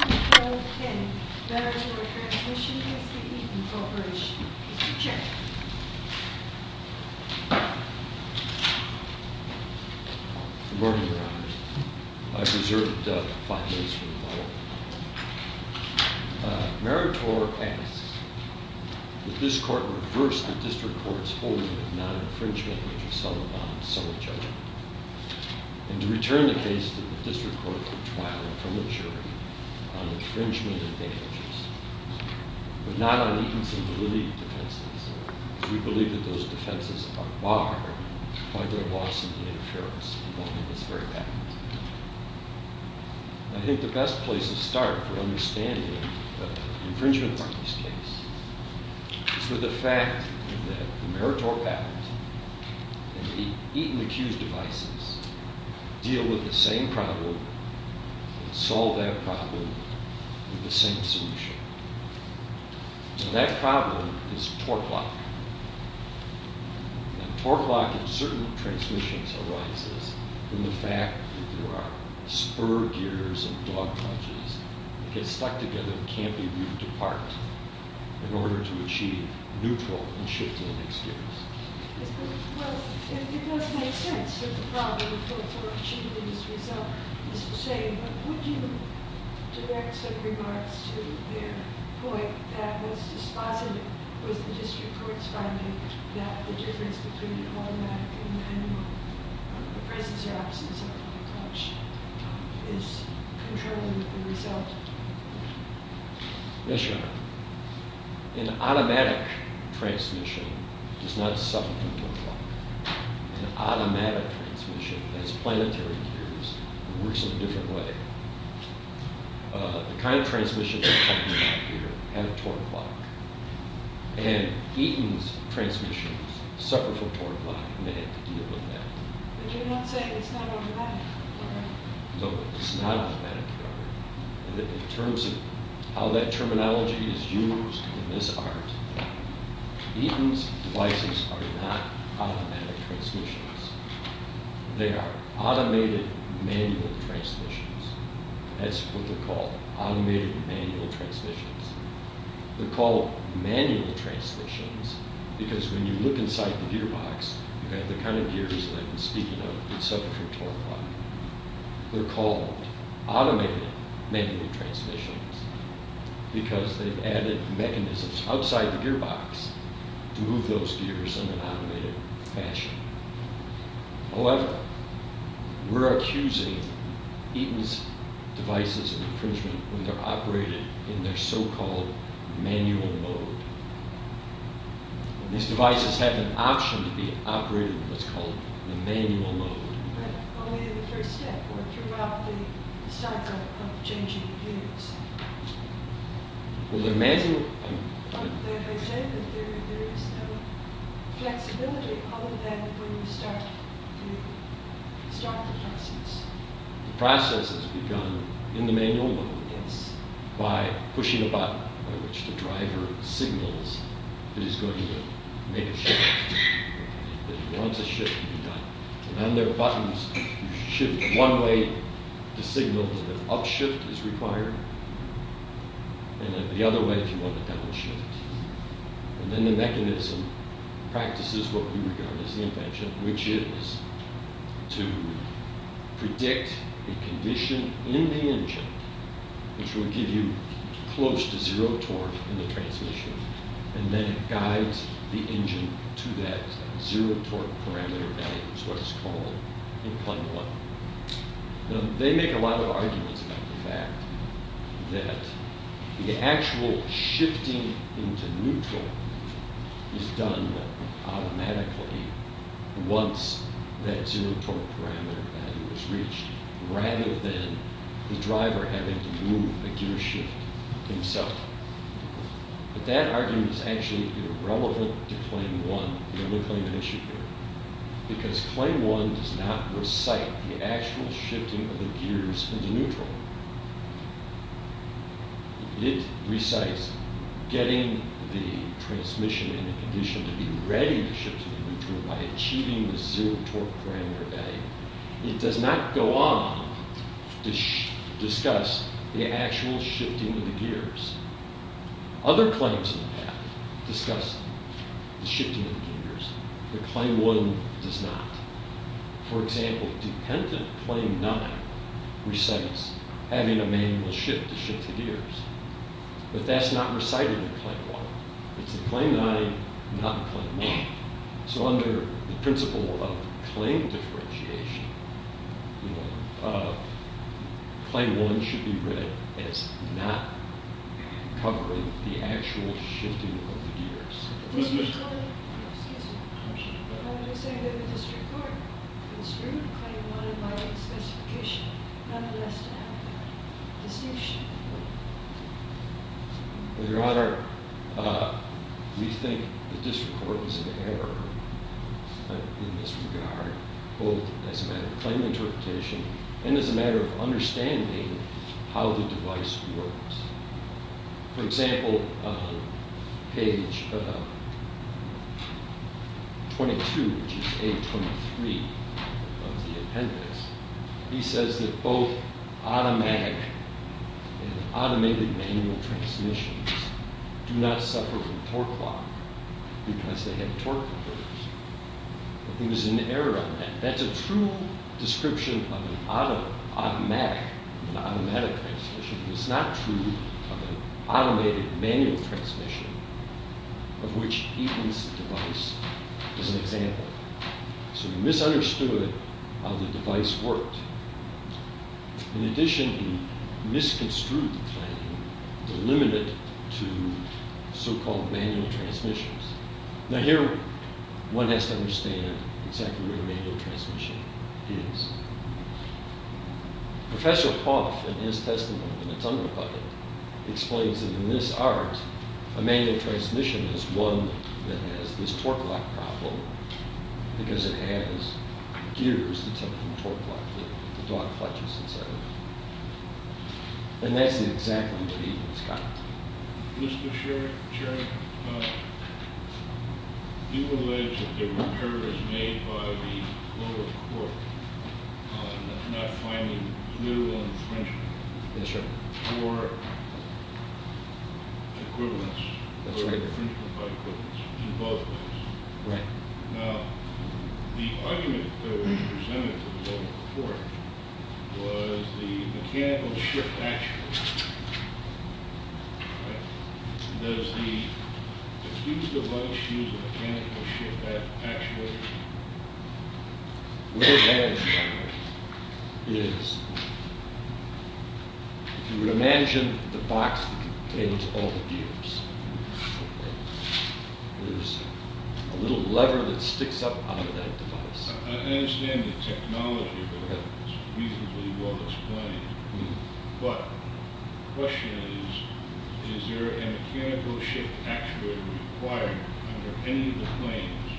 10, Maritor Transmission v. Eaton Corp. Mr. Chairman. Good morning, Your Honor. I've reserved five minutes for the model. Maritor asks that this Court reverse the District Court's holding of non-infringement of the Sullivan-Sullivan judgment. And to return the case to the District Court for trial from the jury on infringement and damages. But not on Eaton's validity defenses. We believe that those defenses are barred by their loss in the interference involved in this very patent. I think the best place to start for understanding the infringement parties case is with the fact that the Maritor patent and the Eaton Accused devices deal with the same problem, and solve that problem with the same solution. And that problem is torque lock. And torque lock in certain transmissions arises from the fact that there are spur gears and dog punches that get stuck together and can't be moved apart in order to achieve neutral and shifting experience. Yes, but it does make sense that the problem for achieving this result is the same. But would you direct some regards to their point that was dispositive with the District Court's finding that the difference between automatic and manual, the presence or absence of a torque clutch, is controlling the result? Yes, Your Honor. An automatic transmission does not suffer from torque lock. An automatic transmission has planetary gears and works in a different way. The kind of transmission that's coming back here had a torque lock. And Eaton's transmissions suffer from torque lock, and they have to deal with that. But you're not saying it's not automatic, Your Honor? No, it's not automatic, Your Honor. In terms of how that terminology is used in this art, Eaton's devices are not automatic transmissions. They are automated manual transmissions. That's what they're called, automated manual transmissions. They're called manual transmissions because when you look inside the gearbox, you have the kind of gears that I've been speaking of that suffer from torque lock. They're called automated manual transmissions because they've added mechanisms outside the gearbox to move those gears in an automated fashion. However, we're accusing Eaton's devices of infringement when they're operated in their so-called manual mode. These devices have an option to be operated in what's called the manual mode. But only in the first step or throughout the cycle of changing gears. Well, they're manual... But they say that there is no flexibility other than when you start the process. The process is begun in the manual mode by pushing a button by which the driver signals that he's going to make a shift. Once a shift can be done. And on their buttons, you shift one way to signal that an upshift is required, and then the other way if you want a downshift. And then the mechanism practices what we regard as the invention, which is to predict a condition in the engine which will give you close to zero torque in the transmission, and then it guides the engine to that zero torque parameter value. It's what it's called in plane one. They make a lot of arguments about the fact that the actual shifting into neutral is done automatically once that zero torque parameter value is reached, rather than the driver having to move a gearshift himself. But that argument is actually irrelevant to plane one, the only plane I mentioned here. Because plane one does not recite the actual shifting of the gears into neutral. It recites getting the transmission in a condition to be ready to shift into neutral by achieving the zero torque parameter value. It does not go on to discuss the actual shifting of the gears. Other claims have discussed the shifting of the gears, but plane one does not. For example, dependent plane nine recites having a manual shift to shift the gears. But that's not recited in plane one. It's in plane nine, not in plane one. So under the principle of claim differentiation, plane one should be read as not covering the actual shifting of the gears. Excuse me. I'm just saying that the district court construed plane one in my specification, nonetheless to have the distinction. Your Honor, we think the district court is in error in this regard, both as a matter of claim interpretation and as a matter of understanding how the device works. For example, page 22, which is page 23 of the appendix, he says that both automatic and automated manual transmissions do not suffer from torque loss because they have torque converters. I think there's an error on that. That's a true description of an automatic transmission. It's not true of an automated manual transmission, of which Eaton's device is an example. So he misunderstood how the device worked. In addition, he misconstrued the claim, delimited it to so-called manual transmissions. Now here, one has to understand exactly what a manual transmission is. Professor Poff, in his testimony in the Tumult Budget, explains that in this art, a manual transmission is one that has this torque lock problem because it has gears that take the torque lock, the dog clutches, etc. And that's exactly what Eaton's got. Mr. Chairman, do you allege that the repair was made by the lower court, not finding new infringement? Yes, sir. Or equivalence, or infringement by equivalence in both ways? Right. Now, the argument that was presented to the lower court was the mechanical shift actuator. Right? Does the, if you use the device, use a mechanical shift actuator? The way that it works is, if you imagine the box that contains all the gears, there's a little lever that sticks up out of that device. I understand the technology, but it's reasonably well explained. But the question is, is there a mechanical shift actuator required under any of the claims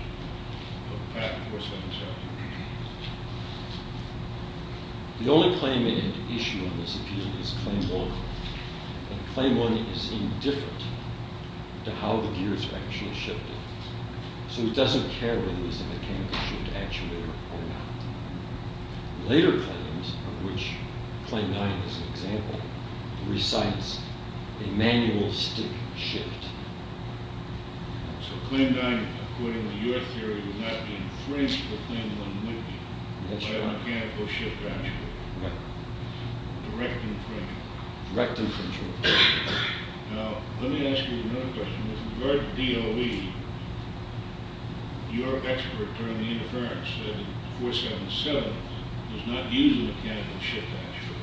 of Pat Forslund's argument? The only claim in issue on this appeal is claim one. And claim one is indifferent to how the gears are actually shifted. So it doesn't care whether there's a mechanical shift actuator or not. Later claims, of which claim nine is an example, recites a manual stick shift. So claim nine, according to your theory, would not be infringed with claim one, would it? That's right. By a mechanical shift actuator. Right. Direct infringement. Direct infringement. Now, let me ask you another question. With regard to DOE, your expert on the interference said 477 does not use a mechanical shift actuator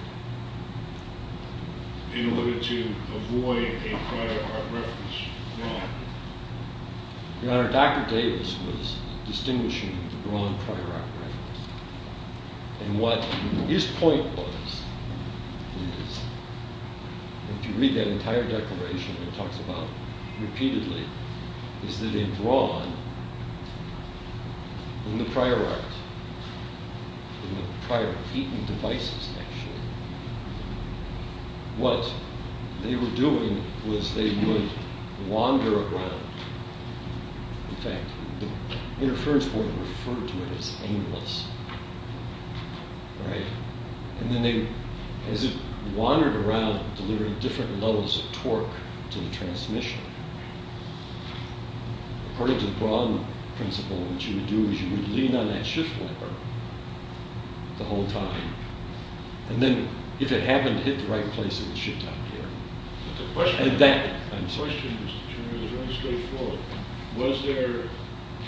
in order to avoid a prior art reference. Your Honor, Dr. Davis was distinguishing the Braun prior art reference. And what his point was is, if you read that entire declaration, it talks about repeatedly, is that in Braun, in the prior art, in the prior heating devices, actually, what they were doing was they would wander around. In fact, the interference board referred to it as aimless. Right? And then they, as it wandered around delivering different levels of torque to the transmission, according to the Braun principle, what you would do is you would lean on that shift lever the whole time. And then, if it happened to hit the right place, it would shift out of gear. The question, Mr. Turner, is really straightforward. Was there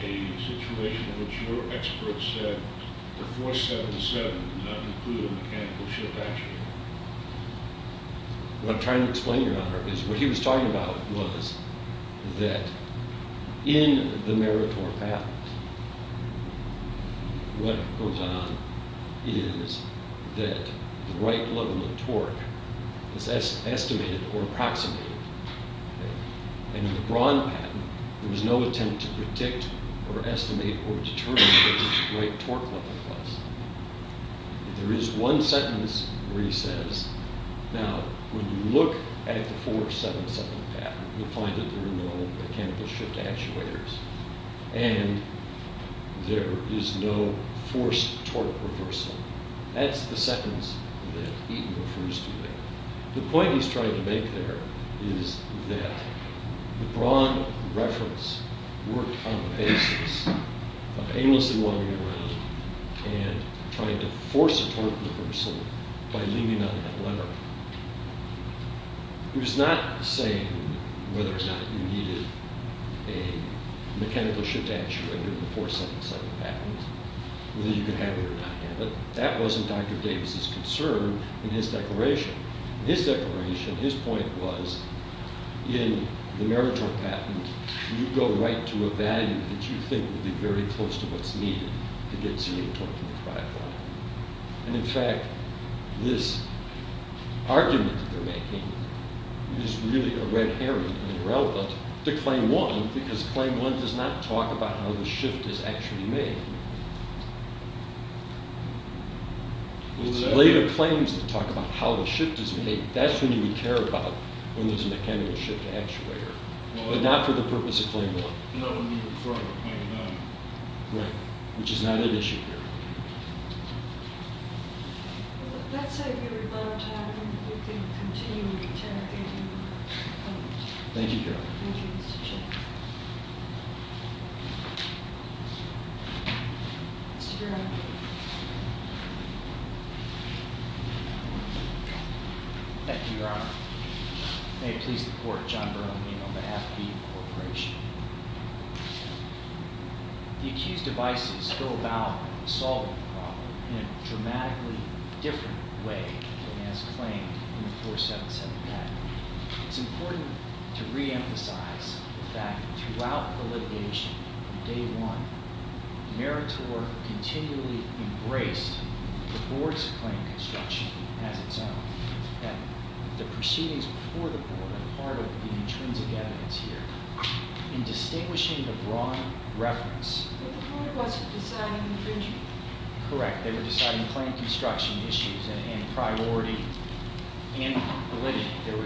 a situation in which your expert said the 477 did not include a mechanical shift actuator? What I'm trying to explain, Your Honor, is what he was talking about was that in the Meritor patent, what goes on is that the right level of torque is estimated or approximated. And in the Braun patent, there was no attempt to predict or estimate or determine what the right torque level was. There is one sentence where he says, now, when you look at the 477 patent, you'll find that there are no mechanical shift actuators and there is no forced torque reversal. That's the sentence that Eaton refers to there. The point he's trying to make there is that the Braun reference worked on the basis of aimlessly wandering around and trying to force a torque reversal by leaning on that lever. He was not saying whether or not you needed a mechanical shift actuator in the 477 patent, whether you could have it or not have it. That wasn't Dr. Davis' concern in his declaration. In his declaration, his point was, in the Meritor patent, you go right to a value that you think would be very close to what's needed to get some torque in the drive line. And in fact, this argument that they're making is really a red herring and irrelevant to Claim 1 because Claim 1 does not talk about how the shift is actually made. It's later claims that talk about how the shift is made. That's when you would care about when there's a mechanical shift actuator, but not for the purpose of Claim 1. Right. Which is not an issue here. Thank you, Your Honor. Thank you, Mr. Chairman. Thank you, Your Honor. May it please the Court, John Bernaline on behalf of the Corporation. The accused devices go about solving the problem in a dramatically different way than as claimed in the 477 patent. It's important to reemphasize the fact that throughout the litigation from Day 1, the Meritor continually embraced the Board's claim construction as its own, and the proceedings before the Board are part of the intrinsic evidence here. In distinguishing the broad reference- But the Board wasn't deciding infringement. Correct. They were deciding claim construction issues and priority and validity. There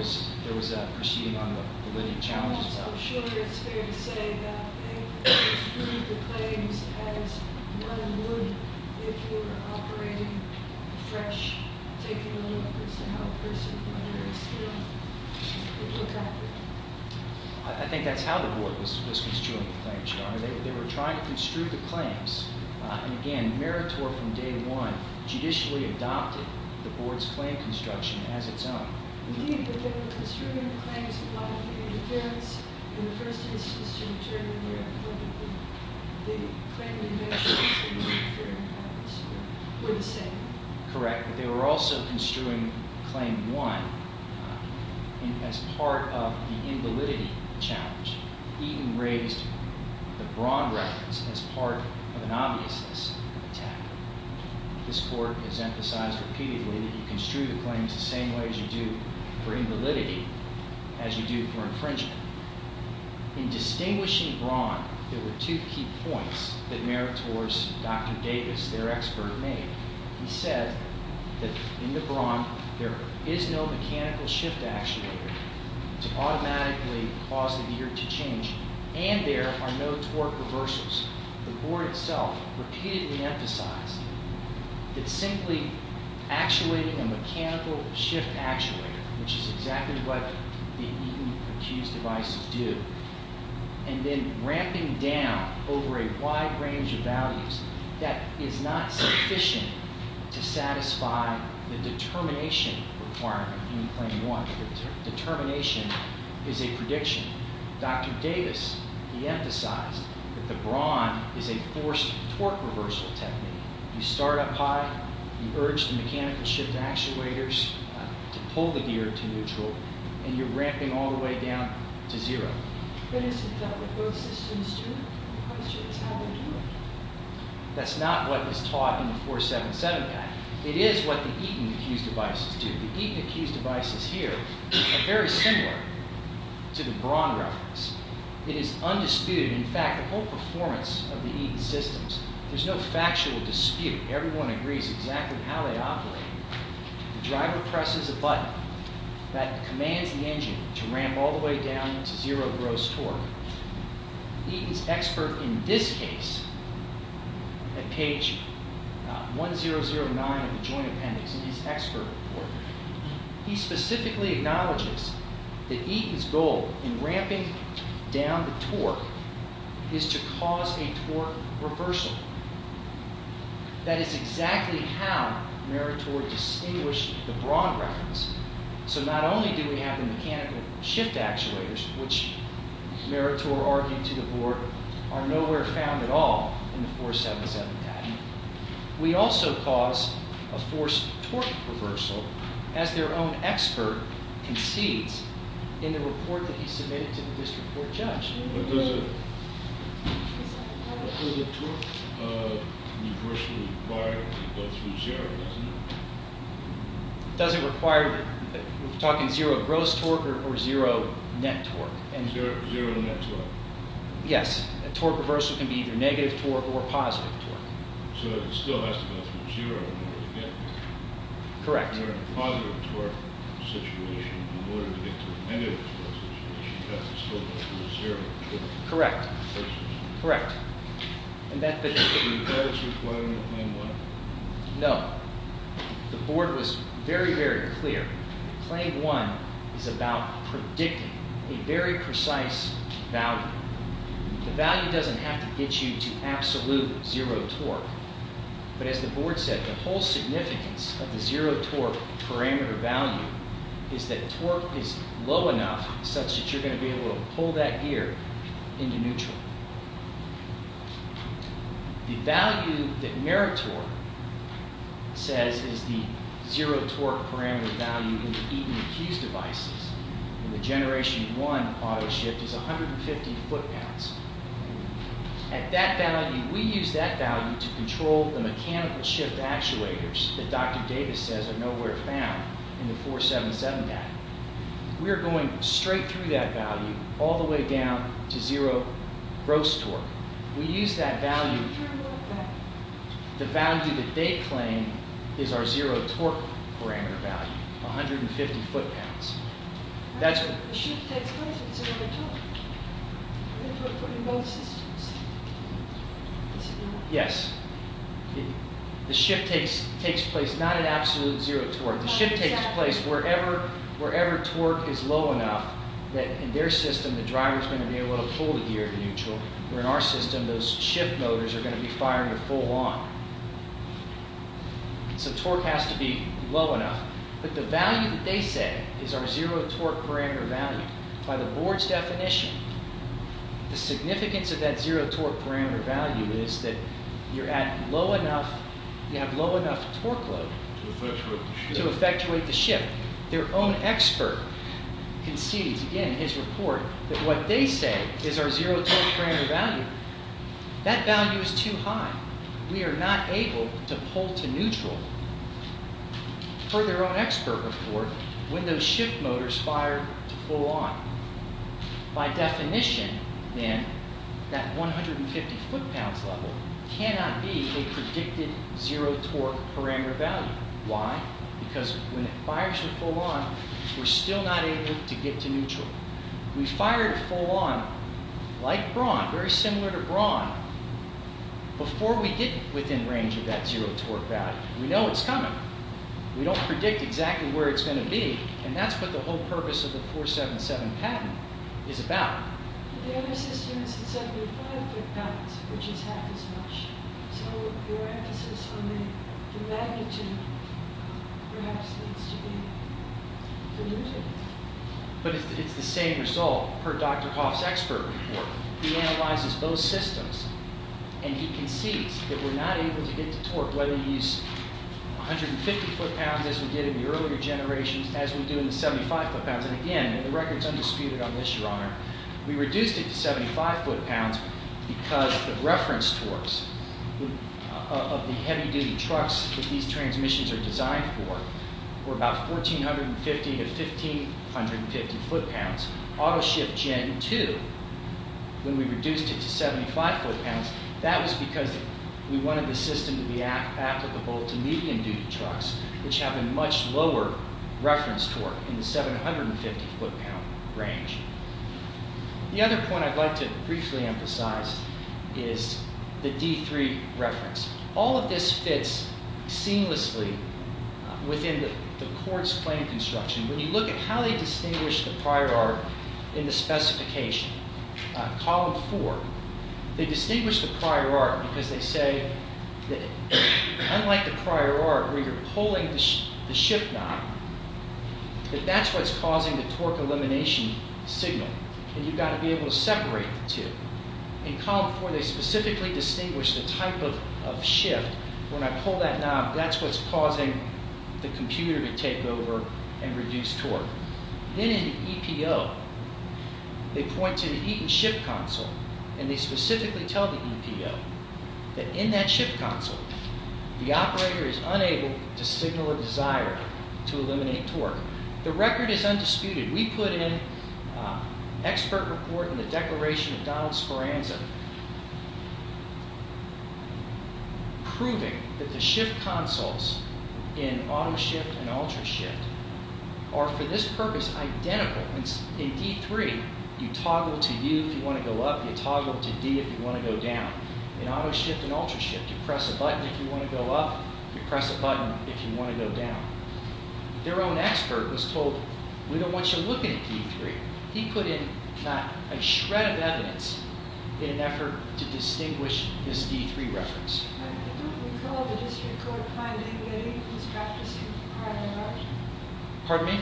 was a proceeding on the validity challenges. So, sure, it's fair to say that they construed the claims as one and one, if you were operating fresh, taking a look as to how a person, whatever, is feeling. I think that's how the Board was construing the claims, Your Honor. They were trying to construe the claims. And, again, Meritor from Day 1 judicially adopted the Board's claim construction as its own. Indeed, but they were construing the claims in light of the interference. In the first instance, to return to your point of view, they claimed the interfering patents were the same. Correct. But they were also construing claim one as part of the invalidity challenge. Even raised the broad reference as part of an obviousness of attack. This Court has emphasized repeatedly that you construe the claims the same way as you do for invalidity, as you do for infringement. In distinguishing Braun, there were two key points that Meritor's Dr. Davis, their expert, made. He said that in the Braun, there is no mechanical shift actuator to automatically cause the gear to change, and there are no torque reversals. The Board itself repeatedly emphasized that simply actuating a mechanical shift actuator, which is exactly what the Eaton Accused devices do, and then ramping down over a wide range of values, that is not sufficient to satisfy the determination requirement in claim one. The determination is a prediction. Dr. Davis, he emphasized that the Braun is a forced torque reversal technique. You start up high, you urge the mechanical shift actuators to pull the gear to neutral, and you're ramping all the way down to zero. That's not what was taught in the 477 Act. It is what the Eaton Accused devices do. The Eaton Accused devices here are very similar to the Braun reference. It is undisputed. In fact, the whole performance of the Eaton systems, there's no factual dispute. Everyone agrees exactly how they operate. The driver presses a button that commands the engine to ramp all the way down to zero gross torque. Eaton's expert in this case, at page 1009 of the Joint Appendix in his expert report, he specifically acknowledges that Eaton's goal in ramping down the torque is to cause a torque reversal. That is exactly how Meritor distinguished the Braun reference. So not only do we have the mechanical shift actuators, which Meritor argued to the board, are nowhere found at all in the 477 Act. We also cause a forced torque reversal, as their own expert concedes in the report that he submitted to the district court judge. But does a torque reversal require it to go through zero, doesn't it? It doesn't require it. We're talking zero gross torque or zero net torque. Zero net torque. Yes. A torque reversal can be either negative torque or positive torque. So it still has to go through zero in order to get there. Correct. In order to get to a negative torque situation, it has to still go through zero. Correct. Correct. Are those required in Claim 1? No. The board was very, very clear. Claim 1 is about predicting a very precise value. The value doesn't have to get you to absolute zero torque. But as the board said, the whole significance of the zero torque parameter value is that torque is low enough such that you're going to be able to pull that gear into neutral. The value that Meritor says is the zero torque parameter value in the Eaton and Keyes devices in the Generation 1 auto shift is 150 foot-pounds. At that value, we use that value to control the mechanical shift actuators that Dr. Davis says are nowhere found in the 477 data. We're going straight through that value all the way down to zero gross torque. We use that value. The value that they claim is our zero torque parameter value, 150 foot-pounds. The shift takes place at zero torque. We put it in both systems. Yes. The shift takes place not at absolute zero torque. The shift takes place wherever torque is low enough that in their system, the driver is going to be able to pull the gear to neutral. Where in our system, those shift motors are going to be firing a full on. So torque has to be low enough. But the value that they say is our zero torque parameter value. By the board's definition, the significance of that zero torque parameter value is that you have low enough torque load to effectuate the shift. Their own expert concedes again in his report that what they say is our zero torque parameter value. That value is too high. We are not able to pull to neutral. For their own expert report, when those shift motors fire to full on. By definition, then, that 150 foot-pounds level cannot be a predicted zero torque parameter value. Why? Because when it fires to full on, we are still not able to get to neutral. We fire to full on like Braun, very similar to Braun. Before we get within range of that zero torque value, we know it's coming. We don't predict exactly where it's going to be. And that's what the whole purpose of the 477 patent is about. But it's the same result per Dr. Coff's expert report. He analyzes those systems. And he concedes that we're not able to get to torque. Whether you use 150 foot-pounds as we did in the earlier generations, as we do in the 75 foot-pounds. And again, the record's undisputed on this, your honor. We reduced it to 75 foot-pounds because the reference torques of the heavy-duty trucks that these transmissions are designed for were about 1,450 to 1,550 foot-pounds. Autoshift Gen 2, when we reduced it to 75 foot-pounds, that was because we wanted the system to be applicable to medium-duty trucks, which have a much lower reference torque in the 750 foot-pound range. The other point I'd like to briefly emphasize is the D3 reference. All of this fits seamlessly within the court's claim construction. When you look at how they distinguish the prior art in the specification, column four, they distinguish the prior art because they say that unlike the prior art where you're pulling the shift knob, that that's what's causing the torque elimination signal. And you've got to be able to separate the two. In column four, they specifically distinguish the type of shift. When I pull that knob, that's what's causing the computer to take over and reduce torque. Then in the EPO, they point to the Eaton shift console, and they specifically tell the EPO that in that shift console, the operator is unable to signal a desire to eliminate torque. The record is undisputed. We put in an expert report in the Declaration of Donald's Foranza, proving that the shift consoles in auto shift and ultra shift are for this purpose identical. In D3, you toggle to U if you want to go up. You toggle to D if you want to go down. In auto shift and ultra shift, you press a button if you want to go up. You press a button if you want to go down. Their own expert was told, we don't want you looking at D3. He put in a shred of evidence in an effort to distinguish this D3 reference. I don't recall the district court finding any of these practices prior to March. Pardon me?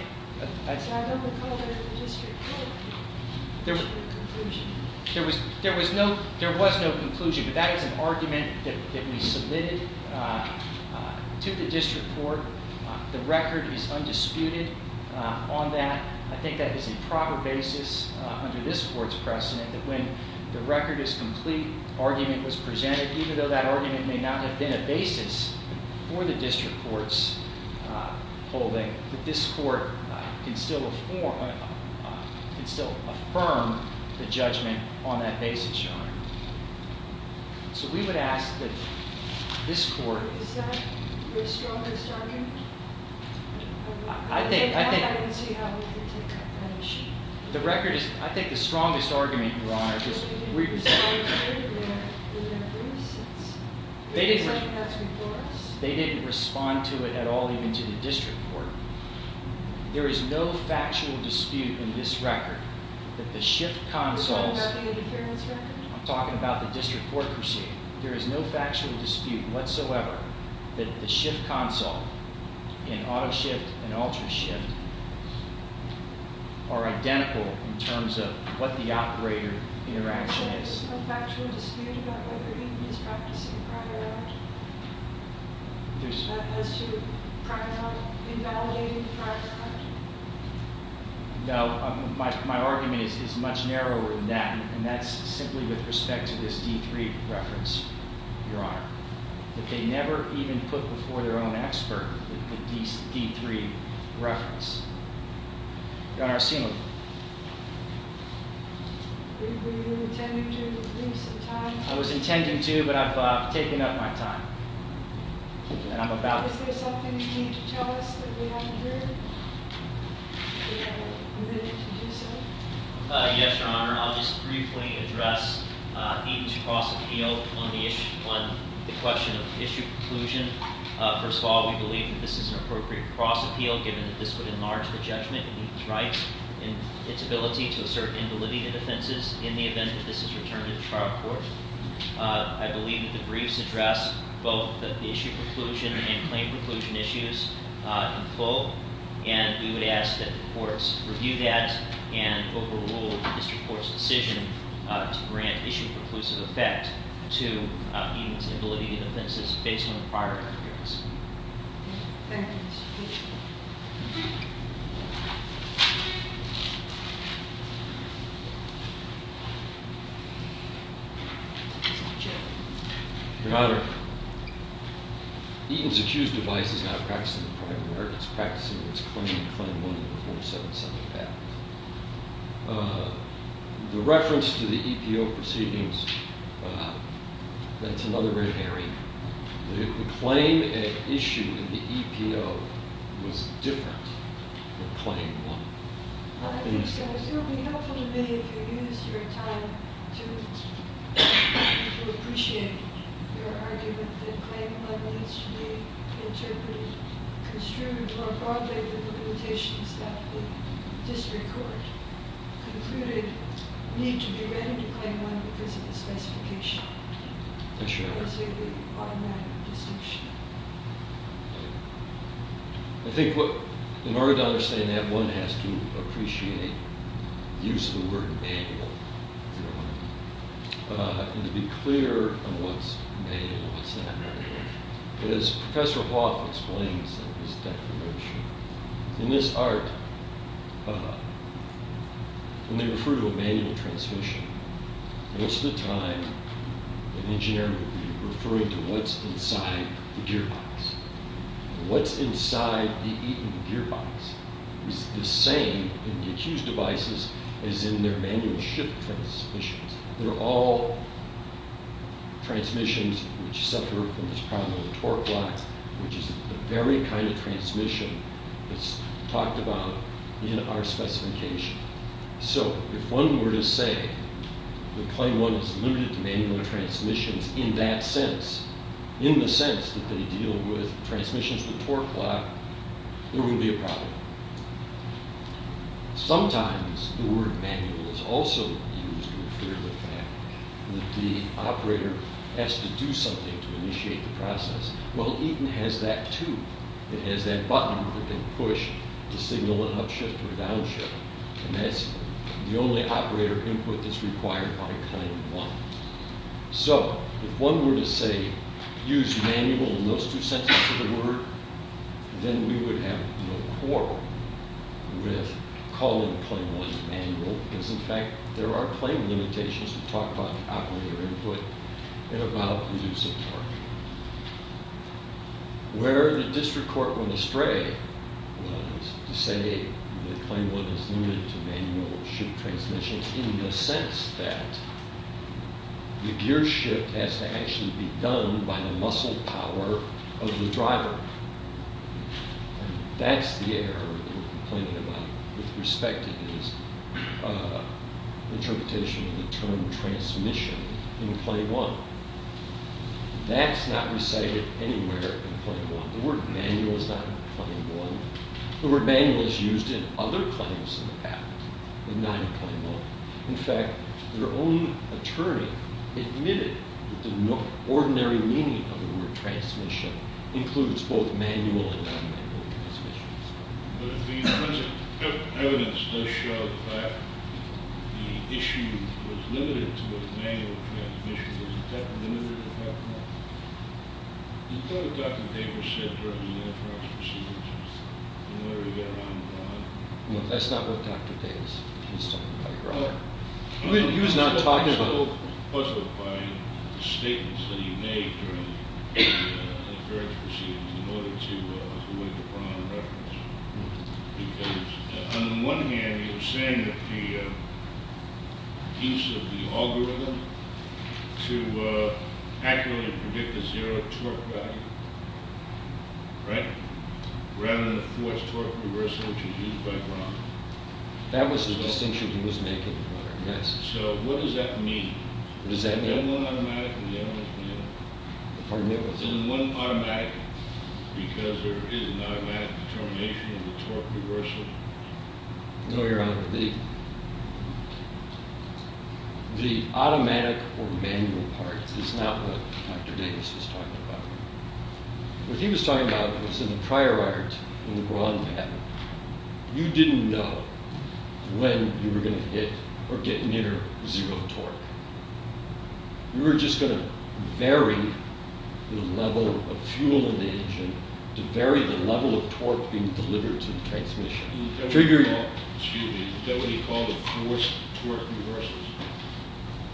I don't recall that the district court came to a conclusion. There was no conclusion, but that is an argument that we submitted to the district court The record is undisputed on that. I think that is a proper basis under this court's precedent, that when the record is complete, argument was presented, even though that argument may not have been a basis for the district court's holding, that this court can still affirm the judgment on that basis, Your Honor. So we would ask that this court... Is that your strongest argument? I don't see how we can take that issue. The record is... I think the strongest argument, Your Honor, is that we... The record is undisputed in that reason. It looks like it has before us. They didn't respond to it at all, even to the district court. There is no factual dispute in this record that the shift consoles... Are you talking about the interference record? I'm talking about the district court procedure. There is no factual dispute whatsoever that the shift console, in auto shift and ultra shift, are identical in terms of what the operator interaction is. There's no factual dispute about whether he was practicing a prior act? As to, for example, invalidating the prior act? No, my argument is much narrower than that. And that's simply with respect to this D3 reference, Your Honor. That they never even put before their own expert the D3 reference. Your Honor, I assume... Were you intending to leave some time? I was intending to, but I've taken up my time. And I'm about to... Is there something you need to tell us that we haven't heard? If we have a minute to do so? Yes, Your Honor. I'll just briefly address Eaton's cross appeal on the question of issue conclusion. First of all, we believe that this is an appropriate cross appeal, given that this would enlarge the judgment in Eaton's rights and its ability to assert invalidated offenses in the event that this is returned to the trial court. I believe that the briefs address both the issue conclusion and claim conclusion issues in full. And we would ask that the courts review that and overrule the district court's decision to grant issue preclusive effect to Eaton's invalidated offenses based on the prior evidence. Thank you, Mr. Chairman. Mr. Chairman. Your Honor. Eaton's accused device is not a practice in the private markets, practicing its claim in Claim 1 of the 477 Act. The reference to the EPO proceedings, that's another red herring. The claim at issue in the EPO was different than Claim 1. I think so. It would be helpful to me if you used your time to appreciate your argument that Claim 1 needs to be interpreted, construed more broadly than the limitations that the district court concluded need to be readied to Claim 1 because of its specification. Yes, Your Honor. I see the bottom line of the distinction. I think in order to understand that, one has to appreciate the use of the word manual, and to be clear on what's manual and what's not. As Professor Hoff explains in his declaration, in this art, when they refer to a manual transmission, most of the time an engineer will be referring to what's inside the gearbox. What's inside the Eaton gearbox is the same in the accused devices as in their manual shift transmissions. They're all transmissions which suffer from this problem of torque loss, which is the very kind of transmission that's talked about in our specification. So if one were to say that Claim 1 is limited to manual transmissions in that sense, in the sense that they deal with transmissions with torque loss, there would be a problem. Sometimes the word manual is also used to infer the fact that the operator has to do something to initiate the process. Well, Eaton has that, too. It has that button that can push to signal an upshift or a downshift, and that's the only operator input that's required by Claim 1. So if one were to say, use manual in those two sentences of the word, then we would have no quarrel with calling Claim 1 manual, because in fact there are claim limitations that talk about the operator input and about the use of torque. Where the district court went astray was to say that Claim 1 is limited to manual shift transmissions in the sense that the gearshift has to actually be done by the muscle power of the driver. That's the error in complaining about, with respect to his interpretation of the term transmission in Claim 1. That's not recited anywhere in Claim 1. The word manual is not in Claim 1. The word manual is used in other claims in the patent, but not in Claim 1. In fact, their own attorney admitted that the ordinary meaning of the word transmission includes both manual and non-manual transmissions. But if the evidence does show that the issue was limited to a manual transmission, is that limited to Claim 1? Is that what Dr. Davis said during the affidavit proceedings, in order to get around the problem? No, that's not what Dr. Davis is talking about, Your Honor. He was not talking about- He was puzzled by the statements that he made during the various proceedings in order to win the Braun reference. Because on the one hand, he was saying that the piece of the algorithm to accurately predict the zero torque value, right, rather than the force-torque reversal, which is used by Braun. That was the distinction he was making, Your Honor. So what does that mean? Is it one automatic and the other is manual? Pardon me? Is it one automatic because there is an automatic determination of the torque reversal? No, Your Honor. The automatic or manual part is not what Dr. Davis was talking about. What he was talking about was in the prior art, in the Braun patent, you didn't know when you were going to hit or get near zero torque. You were just going to vary the level of fuel in the engine to vary the level of torque being delivered to the transmission. Is that what he called the force-torque reversal?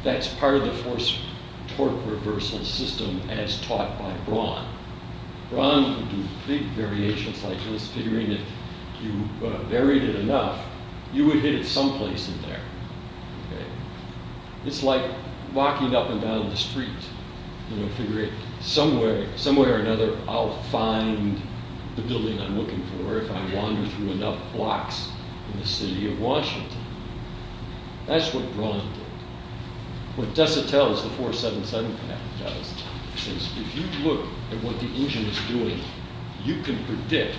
That's part of the force-torque reversal system as taught by Braun. Braun would do big variations like this, figuring if you varied it enough, you would hit it someplace in there. It's like walking up and down the street, figuring somewhere or another I'll find the building I'm looking for if I wander through enough blocks in the city of Washington. That's what Braun did. What DeSotel's 477 patent does is if you look at what the engine is doing, you can predict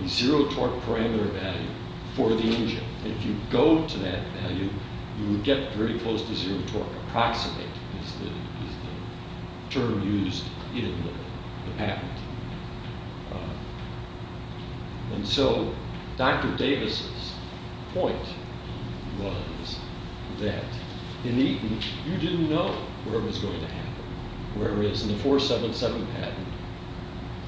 a zero-torque parameter value for the engine. If you go to that value, you would get very close to zero torque. Approximate is the term used in the patent. Dr. Davis' point was that in Eaton, you didn't know where it was going to happen, whereas in the 477 patent,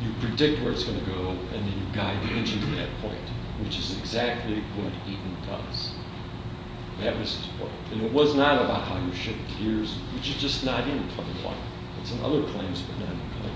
you predict where it's going to go and then you guide the engine to that point, which is exactly what Eaton does. That was his point. It was not about how you shift gears, which is just not in the public life. It's in other claims, but not in the public. Thank you both.